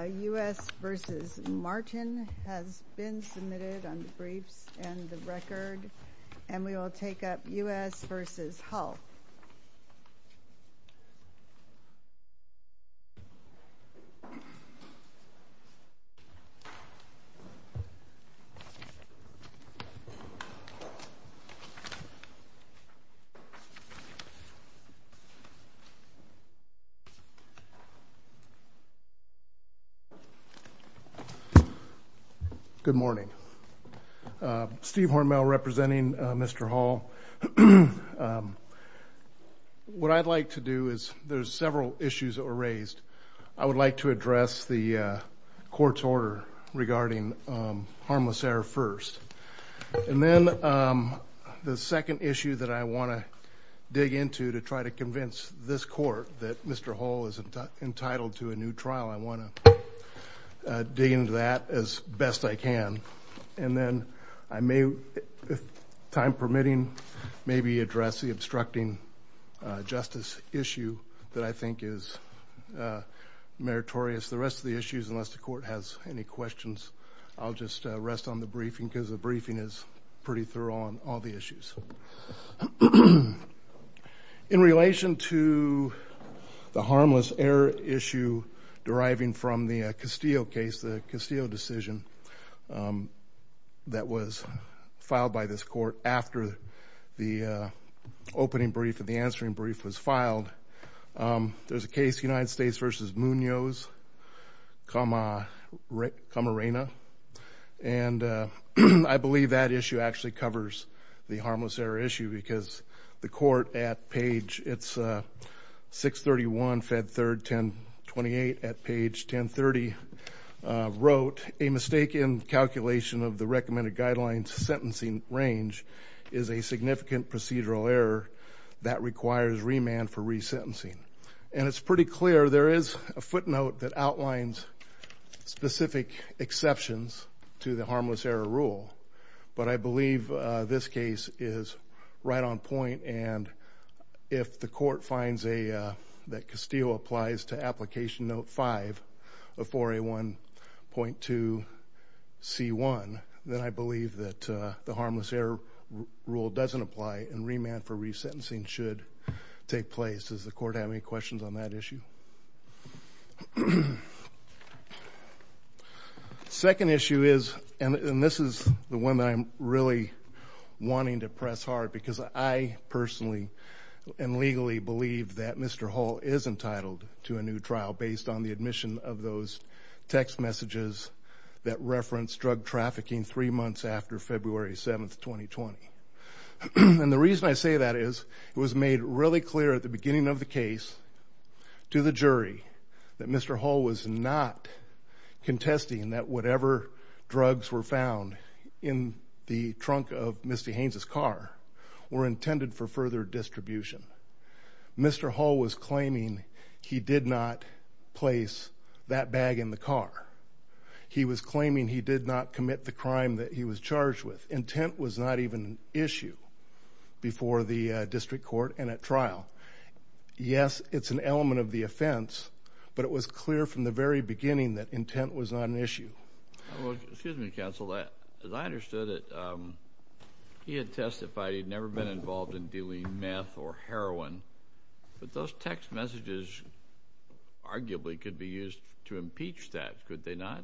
U.S. v. Martin has been submitted on the briefs and the record, and we will take up U.S. v. Hull. Good morning. Steve Hormel representing Mr. Hull. What I'd like to do is, there's several issues that were raised. I would like to address the court's order regarding harmless error first, and then the second issue that I want to dig into to try to convince this court that Mr. Hull is entitled to a new trial. I want to dig into that as best I can. And then, if time permitting, maybe address the obstructing justice issue that I think is meritorious. The rest of the issues, unless the court has any questions, I'll just rest on the briefing because the briefing is pretty thorough on all the issues. In relation to the harmless error issue deriving from the Castillo case, the Castillo decision that was filed by this court after the opening brief and the answering brief was filed, there's a case, United States v. Munoz, comma reina. And I believe that issue actually covers the harmless error issue because the court at page 631, fed 3rd, 1028 at page 1030 wrote, a mistake in calculation of the recommended guidelines sentencing range is a significant procedural error that requires remand for resentencing. And it's pretty clear there is a footnote that outlines specific exceptions to the harmless error rule, but I believe this case is right on point and if the court finds that Castillo applies to application note 5 of 4A1.2C1, then I believe that the harmless error rule doesn't apply and remand for resentencing should take place. Does the court have any questions on that issue? Second issue is, and this is the one that I'm really wanting to press hard because I personally and legally believe that Mr. Hall is entitled to a new trial based on the admission of those text messages that reference drug trafficking three months after February 7, 2020. And the reason I say that is it was made really clear at the beginning of the case to the jury that Mr. Hall was not contesting that whatever drugs were found in the trunk of Misty Haynes' car were intended for further distribution. Mr. Hall was claiming he did not place that bag in the car. He was claiming he did not commit the crime that he was charged with. Intent was not even an issue before the district court and at trial. Yes, it's an element of the offense, but it was clear from the very beginning that intent was not an issue. Well, excuse me, counsel, as I understood it, he had testified he'd never been involved in dealing meth or heroin, but those text messages arguably could be used to impeach that, could they not?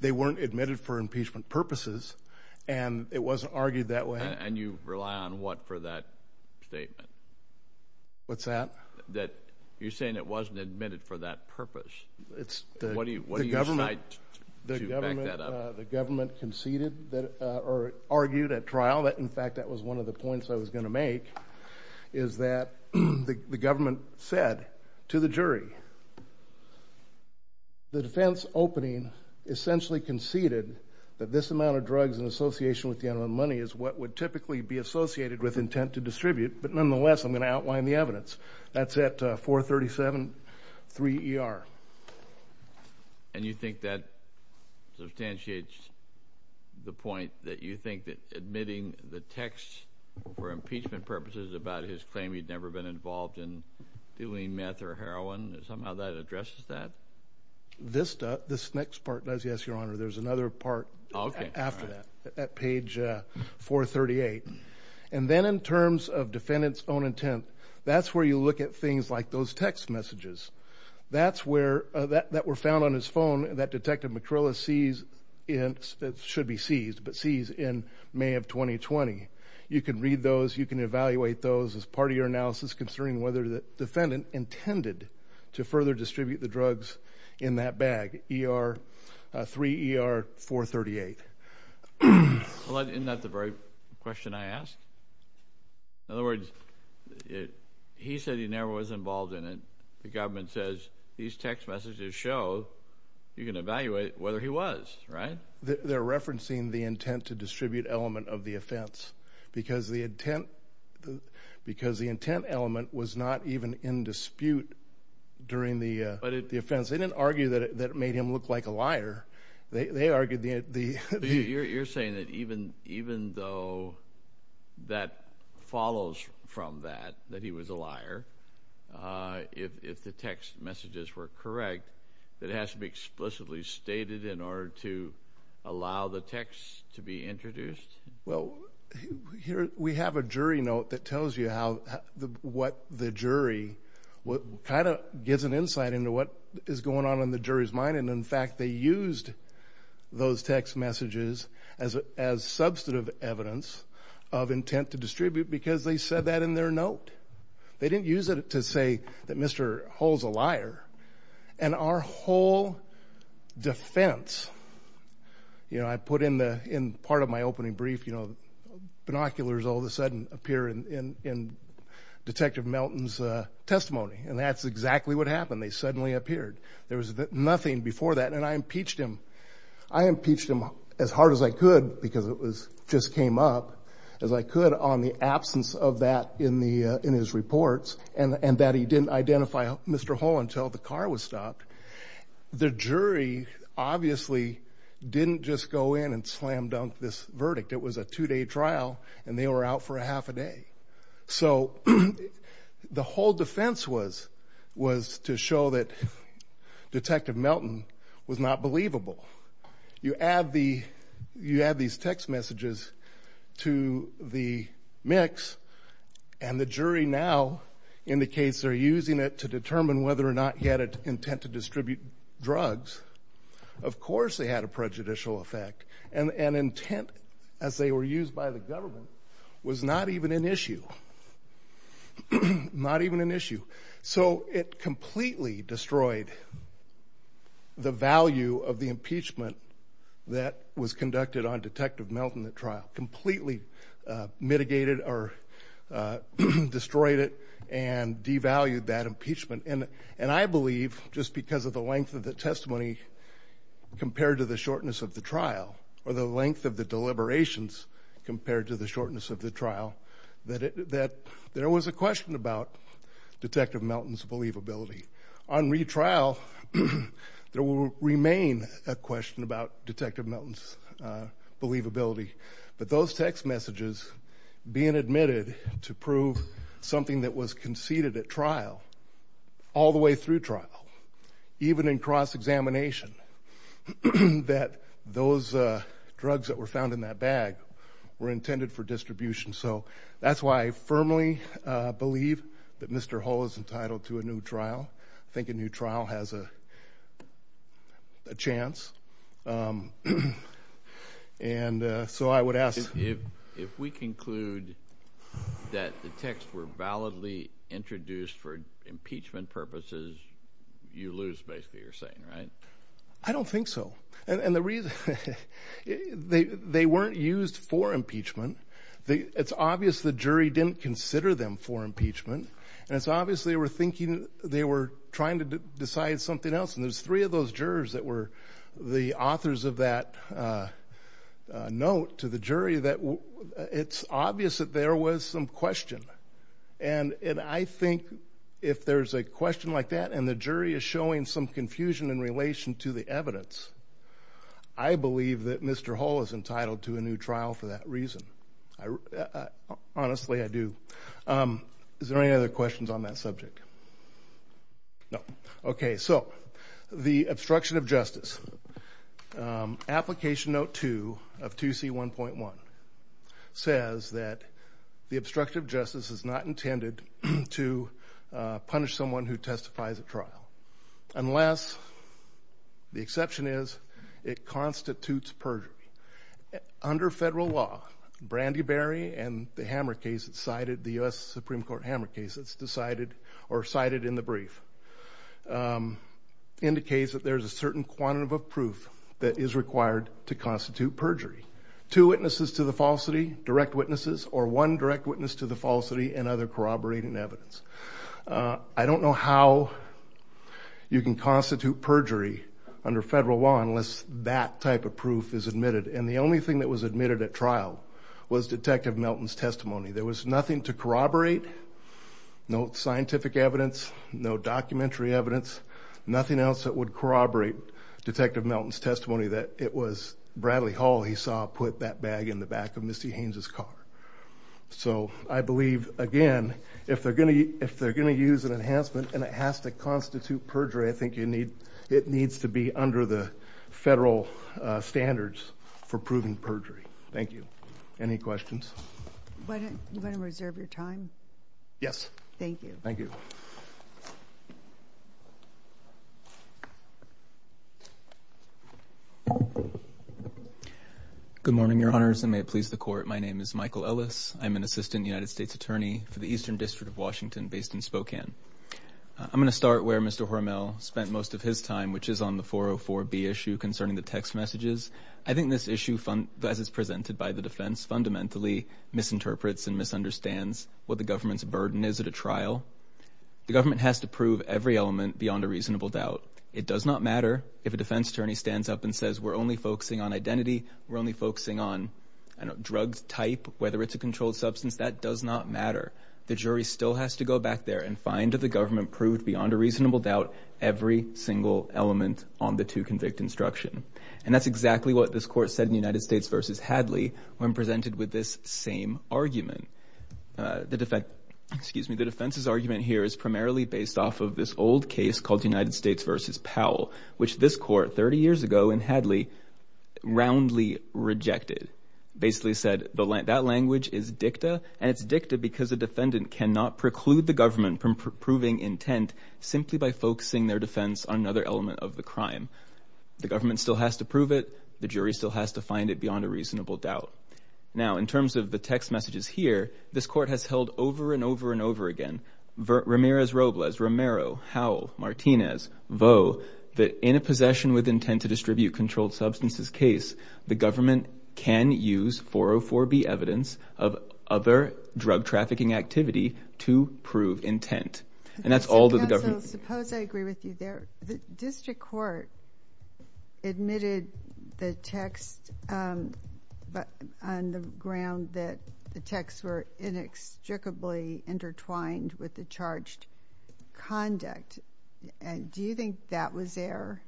They weren't admitted for impeachment purposes, and it wasn't argued that way. And you rely on what for that statement? What's that? You're saying it wasn't admitted for that purpose. What do you cite to back that up? The government conceded or argued at trial, in fact, that was one of the points I was going to make, is that the government said to the jury, the defense opening essentially conceded that this amount of drugs in association with the amount of money is what would typically be associated with intent to distribute, but nonetheless, I'm going to outline the evidence. That's at 437-3ER. And you think that substantiates the point that you think that admitting the text for impeachment purposes about his claim he'd never been involved in dealing meth or heroin, somehow that addresses that? This next part does, yes, Your Honor. There's another part after that at page 438. And then in terms of defendant's own intent, that's where you look at things like those text messages. That's where that were found on his phone that Detective McCrillis sees in – should be sees, but sees in May of 2020. You can read those. You can evaluate those as part of your analysis concerning whether the defendant intended to further distribute the drugs in that bag, 3ER-438. Well, isn't that the very question I asked? In other words, he said he never was involved in it. The government says these text messages show you can evaluate whether he was, right? They're referencing the intent to distribute element of the offense because the intent element was not even in dispute during the offense. They didn't argue that it made him look like a liar. They argued the – You're saying that even though that follows from that, that he was a liar, if the text messages were correct, that it has to be explicitly stated in order to allow the text to be introduced? Well, here we have a jury note that tells you how – what the jury – kind of gives an insight into what is going on in the jury's mind. And, in fact, they used those text messages as substantive evidence of intent to distribute because they said that in their note. They didn't use it to say that Mr. Hull's a liar. And our whole defense – you know, I put in part of my opening brief, you know, binoculars all of a sudden appear in Detective Melton's testimony, and that's exactly what happened. They suddenly appeared. There was nothing before that, and I impeached him. I impeached him as hard as I could because it was – just came up as I could on the absence of that in his reports, and that he didn't identify Mr. Hull until the car was stopped. The jury obviously didn't just go in and slam dunk this verdict. It was a two-day trial, and they were out for a half a day. So the whole defense was to show that Detective Melton was not believable. You add the – you add these text messages to the mix, and the jury now indicates they're using it to determine whether or not he had an intent to distribute drugs. Of course they had a prejudicial effect, and intent, as they were used by the government, was not even an issue. Not even an issue. So it completely destroyed the value of the impeachment that was conducted on Detective Melton at trial, completely mitigated or destroyed it and devalued that impeachment. And I believe, just because of the length of the testimony compared to the shortness of the trial, or the length of the deliberations compared to the shortness of the trial, that there was a question about Detective Melton's believability. On retrial, there will remain a question about Detective Melton's believability. But those text messages being admitted to prove something that was conceded at trial, all the way through trial, even in cross-examination, that those drugs that were found in that bag were intended for distribution. So that's why I firmly believe that Mr. Hull is entitled to a new trial. I think a new trial has a chance. And so I would ask— If we conclude that the texts were validly introduced for impeachment purposes, you lose, basically, you're saying, right? I don't think so. And the reason—they weren't used for impeachment. It's obvious the jury didn't consider them for impeachment. And it's obvious they were thinking—they were trying to decide something else. And there's three of those jurors that were the authors of that note to the jury that it's obvious that there was some question. And I think if there's a question like that and the jury is showing some confusion in relation to the evidence, I believe that Mr. Hull is entitled to a new trial for that reason. Honestly, I do. Is there any other questions on that subject? No. Okay, so the obstruction of justice. Application Note 2 of 2C1.1 says that the obstruction of justice is not intended to punish someone who testifies at trial, unless—the exception is—it constitutes perjury. Under federal law, Brandy Berry and the hammer case that's cited, the U.S. Supreme Court hammer case that's decided or cited in the brief, indicates that there's a certain quantity of proof that is required to constitute perjury. Two witnesses to the falsity, direct witnesses, or one direct witness to the falsity and other corroborating evidence. I don't know how you can constitute perjury under federal law unless that type of proof is admitted. And the only thing that was admitted at trial was Detective Melton's testimony. There was nothing to corroborate, no scientific evidence, no documentary evidence, nothing else that would corroborate Detective Melton's testimony that it was Bradley Hull he saw put that bag in the back of Misty Haynes' car. So I believe, again, if they're going to use an enhancement and it has to constitute perjury, I think it needs to be under the federal standards for proving perjury. Thank you. Any questions? You want to reserve your time? Yes. Thank you. Good morning, Your Honors, and may it please the Court. My name is Michael Ellis. I'm an assistant United States attorney for the Eastern District of Washington based in Spokane. I'm going to start where Mr. Hormel spent most of his time, which is on the 404B issue concerning the text messages. I think this issue, as it's presented by the defense, fundamentally misinterprets and misunderstands what the government's burden is at a trial. The government has to prove every element beyond a reasonable doubt. It does not matter if a defense attorney stands up and says, we're only focusing on identity, we're only focusing on drug type, whether it's a controlled substance. That does not matter. The jury still has to go back there and find if the government proved beyond a reasonable doubt every single element on the to-convict instruction. And that's exactly what this Court said in United States v. Hadley when presented with this same argument. The defense's argument here is primarily based off of this old case called United States v. Powell, which this Court 30 years ago in Hadley roundly rejected, basically said that language is dicta, and it's dicta because a defendant cannot preclude the government from proving intent simply by focusing their defense on another element of the crime. The government still has to prove it. The jury still has to find it beyond a reasonable doubt. Now, in terms of the text messages here, this Court has held over and over and over again, Ramirez, Robles, Romero, Howell, Martinez, Vaux, that in a possession with intent to distribute controlled substances case, the government can use 404B evidence of other drug trafficking activity to prove intent. And that's all that the government can do. with the charged conduct. And do you think that was there?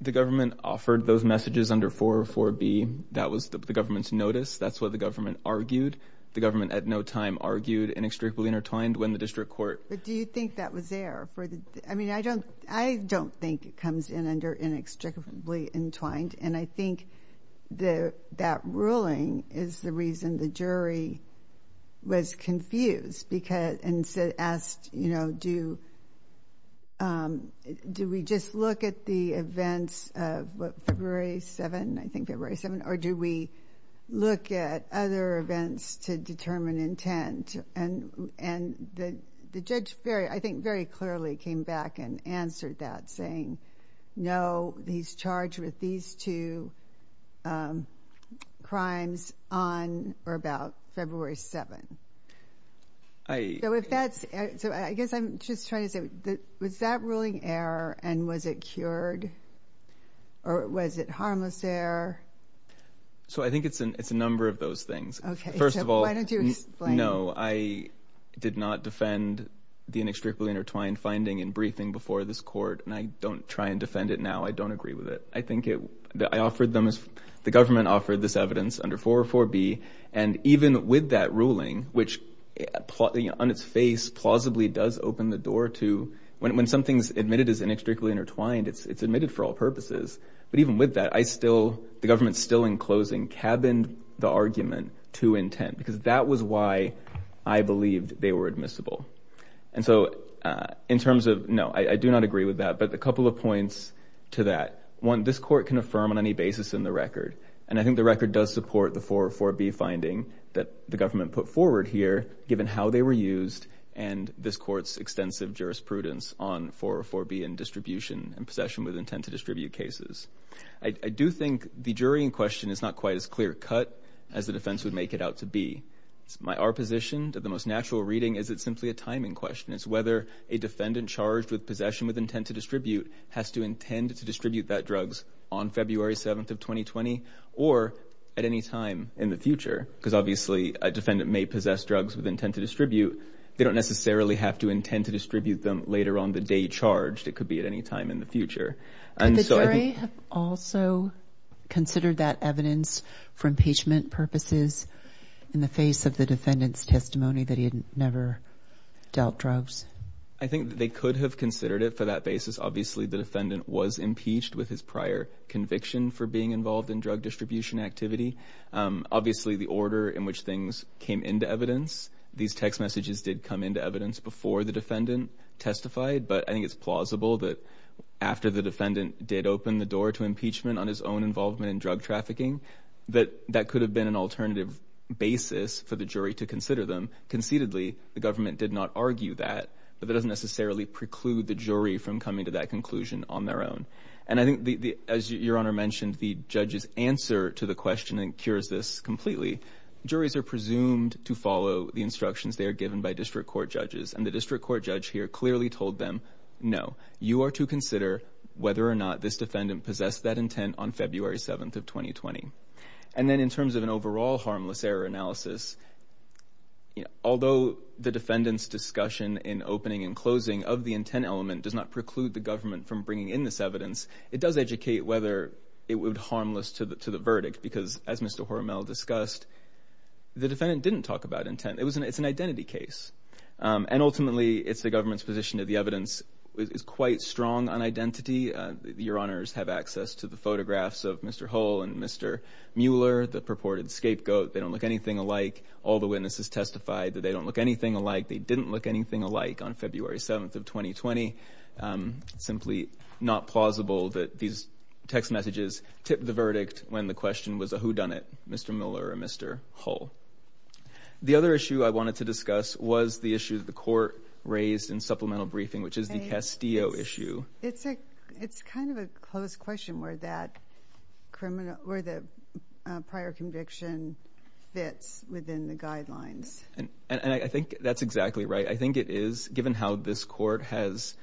The government offered those messages under 404B. That was the government's notice. That's what the government argued. The government at no time argued inextricably intertwined when the district court. But do you think that was there? I mean, I don't think it comes in under inextricably entwined. And I think that ruling is the reason the jury was confused and asked, you know, do we just look at the events of February 7th, I think February 7th, or do we look at other events to determine intent? And the judge, I think, very clearly came back and answered that saying, no, he's charged with these two crimes on or about February 7th. So I guess I'm just trying to say, was that ruling error and was it cured? Or was it harmless error? So I think it's a number of those things. First of all, no, I did not defend the inextricably intertwined finding in briefing before this court, and I don't try and defend it now. I don't agree with it. I think the government offered this evidence under 404B. And even with that ruling, which on its face plausibly does open the door to when something's admitted as inextricably intertwined, it's admitted for all purposes. But even with that, the government still in closing cabined the argument to intent because that was why I believed they were admissible. And so in terms of, no, I do not agree with that. But a couple of points to that. One, this court can affirm on any basis in the record, and I think the record does support the 404B finding that the government put forward here, given how they were used and this court's extensive jurisprudence on 404B and distribution and possession with intent to distribute cases. I do think the jury in question is not quite as clear cut as the defense would make it out to be. My opposition to the most natural reading is it's simply a timing question. It's whether a defendant charged with possession with intent to distribute has to intend to distribute that drugs on February 7th of 2020 or at any time in the future. Because obviously a defendant may possess drugs with intent to distribute. They don't necessarily have to intend to distribute them later on the day charged. It could be at any time in the future. Could the jury have also considered that evidence for impeachment purposes in the face of the defendant's testimony that he had never dealt drugs? I think they could have considered it for that basis. Obviously the defendant was impeached with his prior conviction for being involved in drug distribution activity. Obviously the order in which things came into evidence, these text messages did come into evidence before the defendant testified, but I think it's plausible that after the defendant did open the door to impeachment on his own involvement in drug trafficking, that that could have been an alternative basis for the jury to consider them. Conceitedly, the government did not argue that, but that doesn't necessarily preclude the jury from coming to that conclusion on their own. And I think, as Your Honor mentioned, the judge's answer to the question incurs this completely. Juries are presumed to follow the instructions they are given by district court judges, and the district court judge here clearly told them, no, you are to consider whether or not this defendant possessed that intent on February 7th of 2020. And then in terms of an overall harmless error analysis, although the defendant's discussion in opening and closing of the intent element does not preclude the government from bringing in this evidence, it does educate whether it would be harmless to the verdict, because as Mr. Hormel discussed, the defendant didn't talk about intent. It's an identity case. And ultimately, it's the government's position that the evidence is quite strong on identity. Your Honors have access to the photographs of Mr. Hull and Mr. Mueller, the purported scapegoat. They don't look anything alike. All the witnesses testified that they don't look anything alike. They didn't look anything alike on February 7th of 2020. It's simply not plausible that these text messages tipped the verdict when the question was a whodunit, Mr. Mueller or Mr. Hull. The other issue I wanted to discuss was the issue that the court raised in supplemental briefing, which is the Castillo issue. It's kind of a close question where the prior conviction fits within the guidelines. And I think that's exactly right. I think it is, given how this court has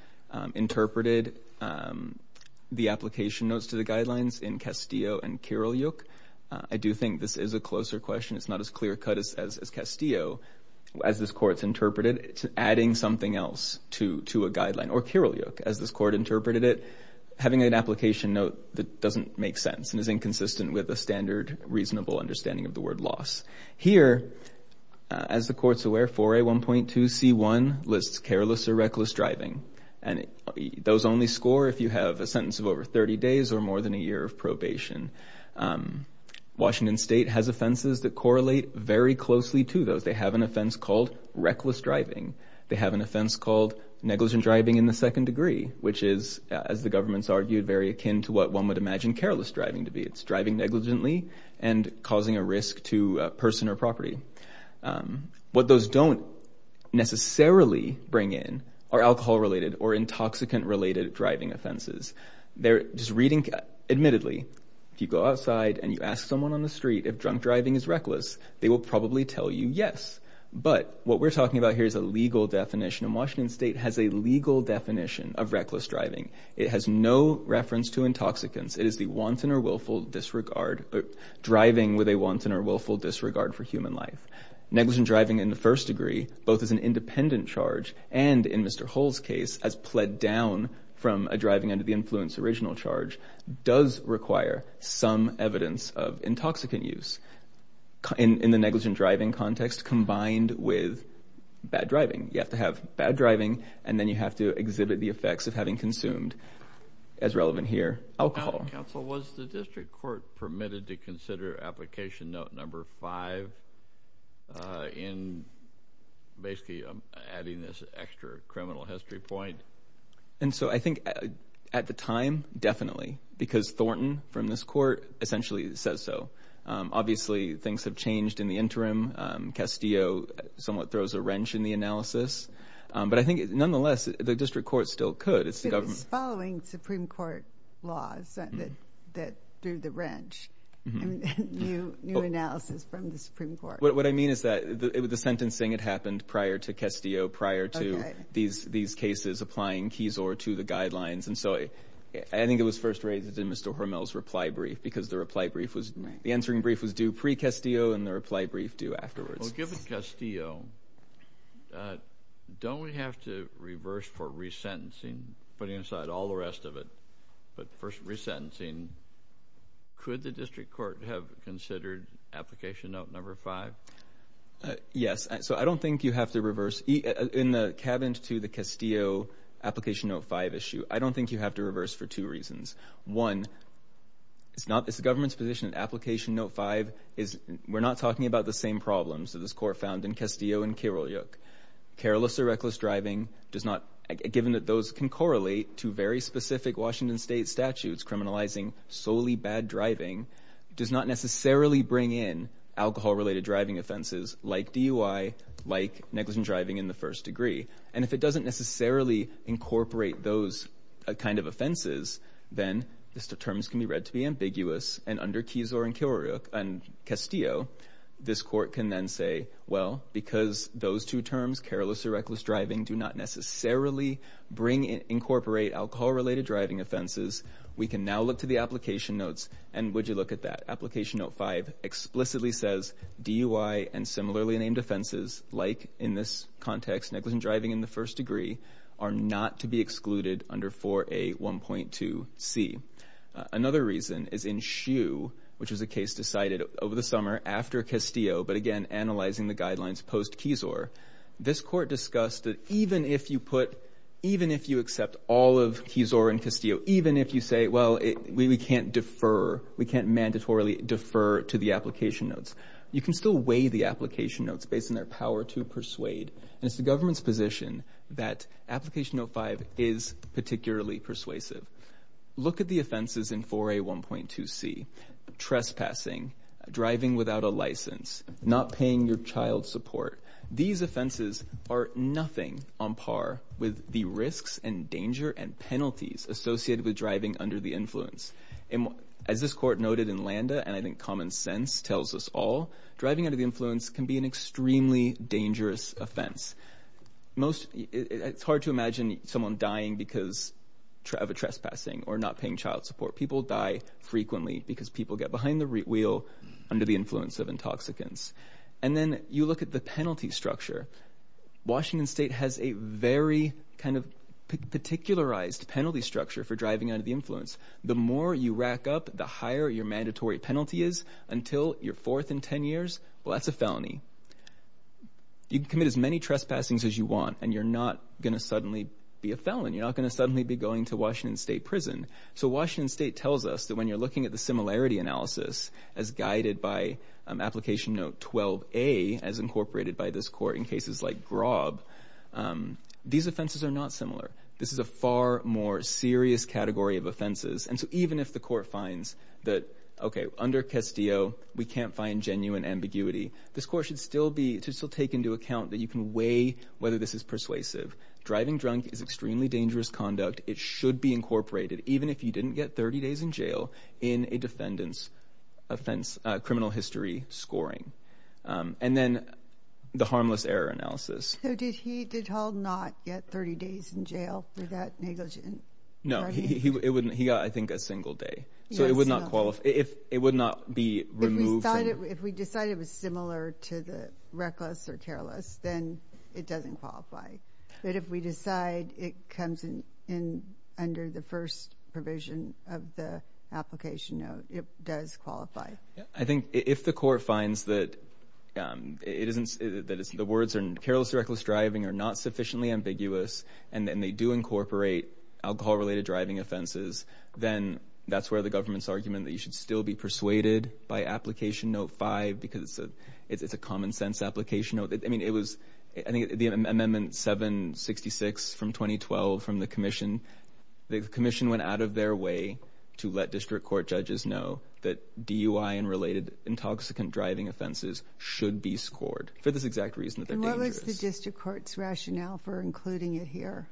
interpreted the application notes to the guidelines in Castillo and Kirilyuk. I do think this is a closer question. It's not as clear-cut as Castillo. As this court's interpreted, adding something else to a guideline, or Kirilyuk, as this court interpreted it, having an application note that doesn't make sense and is inconsistent with a standard, reasonable understanding of the word loss. Here, as the court's aware, 4A1.2C1 lists careless or reckless driving. And those only score if you have a sentence of over 30 days or more than a year of probation. Washington State has offenses that correlate very closely to those. They have an offense called reckless driving. They have an offense called negligent driving in the second degree, which is, as the government's argued, very akin to what one would imagine careless driving to be. It's driving negligently and causing a risk to a person or property. What those don't necessarily bring in are alcohol-related or intoxicant-related driving offenses. Admittedly, if you go outside and you ask someone on the street if drunk driving is reckless, they will probably tell you yes. But what we're talking about here is a legal definition, and Washington State has a legal definition of reckless driving. It has no reference to intoxicants. It is the wanton or willful disregard for driving with a wanton or willful disregard for human life. Negligent driving in the first degree, both as an independent charge and, in Mr. Hull's case, as pled down from a driving under the influence original charge, does require some evidence of intoxicant use in the negligent driving context combined with bad driving. You have to have bad driving, and then you have to exhibit the effects of having consumed, as relevant here, alcohol. Counsel, was the district court permitted to consider application note number five in basically adding this extra criminal history point? I think at the time, definitely, because Thornton, from this court, essentially says so. Obviously, things have changed in the interim. Castillo somewhat throws a wrench in the analysis. But I think, nonetheless, the district court still could. It was following Supreme Court laws that threw the wrench in new analysis from the Supreme Court. What I mean is that the sentencing had happened prior to Castillo, prior to these cases applying Keysore to the guidelines. And so I think it was first raised in Mr. Hormel's reply brief because the reply brief was – the answering brief was due pre-Castillo and the reply brief due afterwards. Well, given Castillo, don't we have to reverse for resentencing, putting aside all the rest of it? But for resentencing, could the district court have considered application note number five? Yes. So I don't think you have to reverse. In the cabinet to the Castillo application note five issue, I don't think you have to reverse for two reasons. One, it's the government's position that application note five is – we're talking about the same problems that this court found in Castillo and Kirolyuk. Careless or reckless driving does not – given that those can correlate to very specific Washington State statutes criminalizing solely bad driving, does not necessarily bring in alcohol-related driving offenses like DUI, like negligent driving in the first degree. And if it doesn't necessarily incorporate those kind of offenses, then the terms can be read to be ambiguous. And under Kizor and Castillo, this court can then say, well, because those two terms, careless or reckless driving, do not necessarily incorporate alcohol-related driving offenses, we can now look to the application notes and would you look at that. Application note five explicitly says DUI and similarly named offenses, like in this context, negligent driving in the first degree, are not to be excluded under 4A1.2C. Another reason is in Hsu, which was a case decided over the summer after Castillo, but again, analyzing the guidelines post-Kizor, this court discussed that even if you put – even if you accept all of Kizor and Castillo, even if you say, well, we can't defer, we can't mandatorily defer to the application notes, you can still weigh the application notes based on their power to persuade. And it's the government's position that application note five is particularly persuasive. Look at the offenses in 4A1.2C. Trespassing, driving without a license, not paying your child support. These offenses are nothing on par with the risks and danger and penalties associated with driving under the influence. As this court noted in Landa and I think common sense tells us all, driving under the influence can be an extremely dangerous offense. Most – it's hard to imagine someone dying because of a trespassing or not paying child support. People die frequently because people get behind the wheel under the influence of intoxicants. And then you look at the penalty structure. Washington State has a very kind of particularized penalty structure for driving under the influence. The more you rack up, the higher your mandatory penalty is until you're fourth in 10 years. Well, that's a felony. You can commit as many trespassings as you want, and you're not going to suddenly be a felon. You're not going to suddenly be going to Washington State prison. So Washington State tells us that when you're looking at the similarity analysis as guided by application note 12A as incorporated by this court in cases like Graub, these offenses are not similar. This is a far more serious category of offenses. And so even if the court finds that, okay, under Castillo we can't find genuine ambiguity, this court should still take into account that you can weigh whether this is persuasive. Driving drunk is extremely dangerous conduct. It should be incorporated, even if you didn't get 30 days in jail, in a defendant's criminal history scoring. And then the harmless error analysis. So did Hall not get 30 days in jail for that negligent driving? No, he got, I think, a single day. So it would not be removed from him. But if we decide it was similar to the reckless or careless, then it doesn't qualify. But if we decide it comes under the first provision of the application note, it does qualify. I think if the court finds that the words careless or reckless driving are not sufficiently ambiguous and they do incorporate alcohol-related driving offenses, then that's where the government's argument that you should still be persuaded by application note 5 because it's a common-sense application note. I mean, it was the amendment 766 from 2012 from the commission. The commission went out of their way to let district court judges know that DUI and related intoxicant driving offenses should be scored for this exact reason that they're dangerous. And what was the district court's rationale for including it here?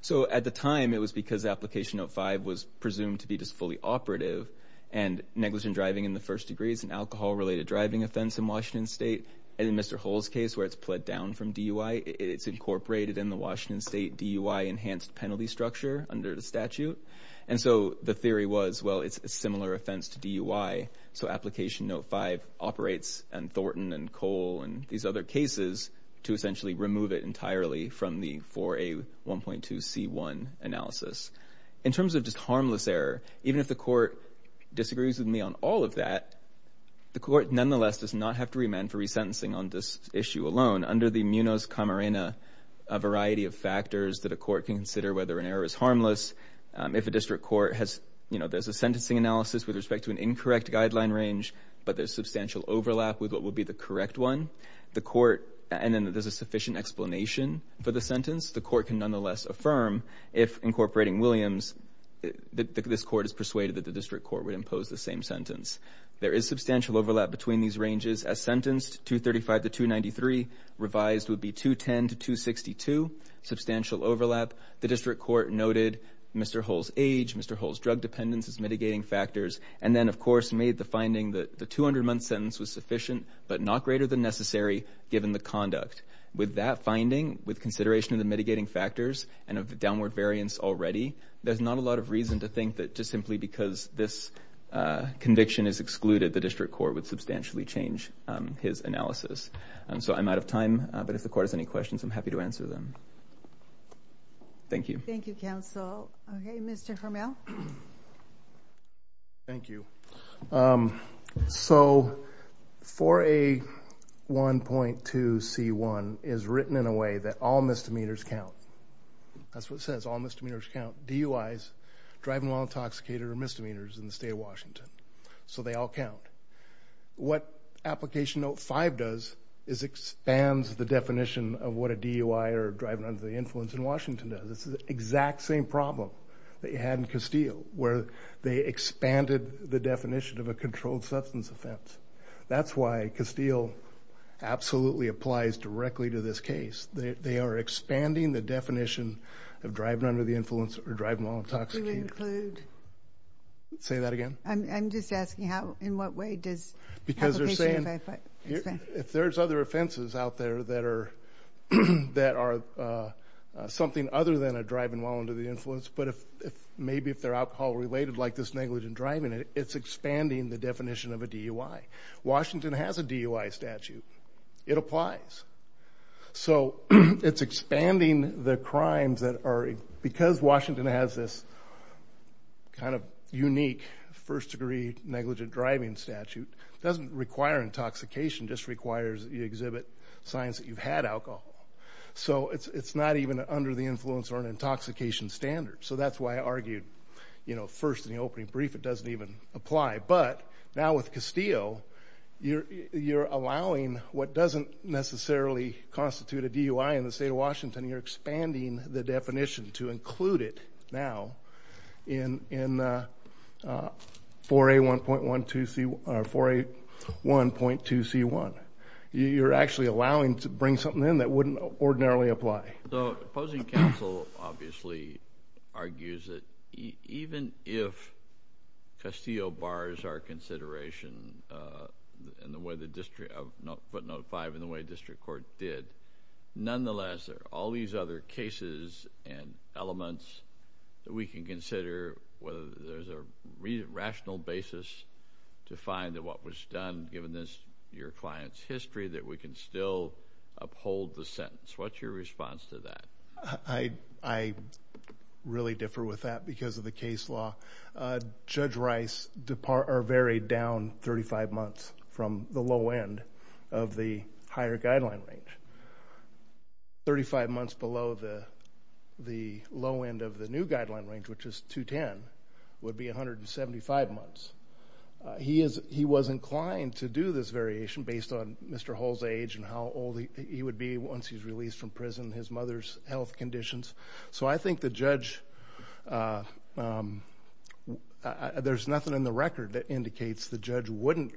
So at the time, it was because application note 5 was presumed to be just fully operative and negligent driving in the first degree is an alcohol-related driving offense in Washington State. And in Mr. Hall's case where it's pled down from DUI, it's incorporated in the Washington State DUI enhanced penalty structure under the statute. And so the theory was, well, it's a similar offense to DUI, so application note 5 operates and Thornton and Cole and these other cases to essentially remove it entirely from the 4A1.2C1 analysis. In terms of just harmless error, even if the court disagrees with me on all of that, the court nonetheless does not have to remand for resentencing on this issue alone. Under the Munos Camarena, a variety of factors that a court can consider whether an error is harmless. If a district court has, you know, there's a sentencing analysis with respect to an incorrect guideline range, but there's substantial overlap with what would be the correct one, the court, and then there's a sufficient explanation for the sentence, the court can nonetheless affirm if incorporating Williams, this court is persuaded that the district court would impose the same sentence. There is substantial overlap between these ranges. As sentenced, 235 to 293, revised would be 210 to 262, substantial overlap. The district court noted Mr. Hall's age, Mr. Hall's drug dependence as mitigating factors, and then, of course, made the finding that the 200-month sentence was sufficient, but not greater than necessary given the conduct. With that finding, with consideration of the mitigating factors and of the downward variance already, there's not a lot of reason to think that just simply because this conviction is excluded, the district court would substantially change his analysis. So I'm out of time, but if the court has any questions, I'm happy to answer them. Thank you. Thank you, counsel. Okay, Mr. Hermel. Thank you. So 4A1.2C1 is written in a way that all misdemeanors count. That's what it says, all misdemeanors count. DUIs, driving while intoxicated, are misdemeanors in the state of Washington, so they all count. What Application Note 5 does is expands the definition of what a DUI or driving under the influence in Washington does. This is the exact same problem that you had in Castile, where they expanded the definition of a controlled substance offense. That's why Castile absolutely applies directly to this case. They are expanding the definition of driving under the influence or driving while intoxicated. Do you include? Say that again? I'm just asking in what way does Application Note 5 expand? If there's other offenses out there that are something other than a driving while under the influence, but maybe if they're alcohol-related like this negligent driving, it's expanding the definition of a DUI. Washington has a DUI statute. It applies. So it's expanding the crimes that are, because Washington has this kind of unique first-degree negligent driving statute, it doesn't require intoxication, it just requires that you exhibit signs that you've had alcohol. So it's not even under the influence or an intoxication standard. So that's why I argued, you know, first in the opening brief it doesn't even apply. But now with Castile, you're allowing what doesn't necessarily constitute a DUI in the state of Washington. You're expanding the definition to include it now in 4A1.2C1. You're actually allowing to bring something in that wouldn't ordinarily apply. So opposing counsel obviously argues that even if Castile bars our consideration in the way the district, footnote 5, in the way district court did, nonetheless there are all these other cases and elements that we can consider whether there's a rational basis to find that what was done, given your client's history, that we can still uphold the sentence. What's your response to that? I really differ with that because of the case law. Judge Rice varied down 35 months from the low end of the higher guideline range. Thirty-five months below the low end of the new guideline range, which is 210, would be 175 months. He was inclined to do this variation based on Mr. Hull's age and how old he would be once he's released from prison, his mother's health conditions. So I think the judge, there's nothing in the record that indicates the judge wouldn't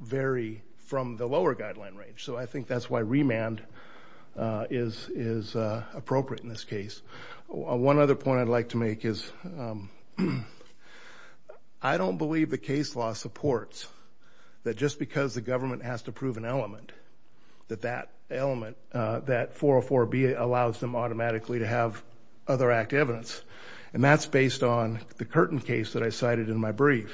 vary from the lower guideline range. So I think that's why remand is appropriate in this case. One other point I'd like to make is I don't believe the case law supports that just because the government has to prove an element, that that element, that 404B allows them automatically to have other act evidence, and that's based on the Curtin case that I cited in my brief.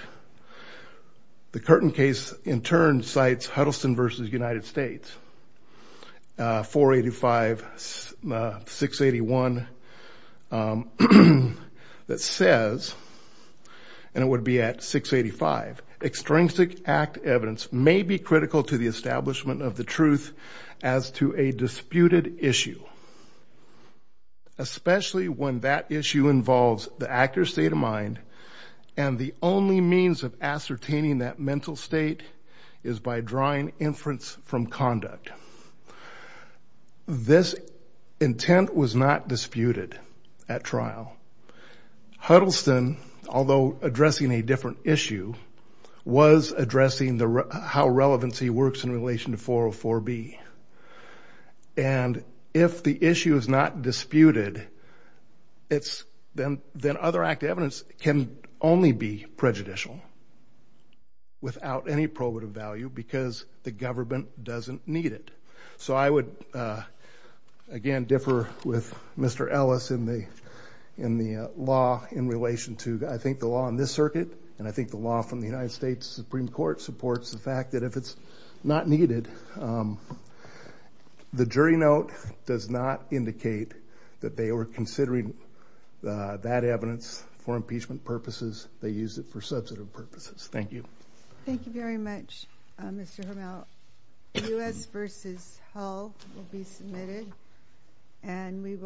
The Curtin case in turn cites Huddleston v. United States, 485, 681, that says, and it would be at 685, extrinsic act evidence may be critical to the establishment of the truth as to a disputed issue, especially when that issue involves the actor's state of mind and the only means of ascertaining that mental state is by drawing inference from conduct. This intent was not disputed at trial. Huddleston, although addressing a different issue, was addressing how relevancy works in relation to 404B. And if the issue is not disputed, then other act evidence can only be prejudicial without any probative value because the government doesn't need it. So I would, again, differ with Mr. Ellis in the law in relation to, I think, the law in this circuit, and I think the law from the United States Supreme Court supports the fact that if it's not needed, the jury note does not indicate that they were considering that evidence for impeachment purposes. They used it for substantive purposes. Thank you. Thank you very much, Mr. Hermel. U.S. v. Hull will be submitted, and we will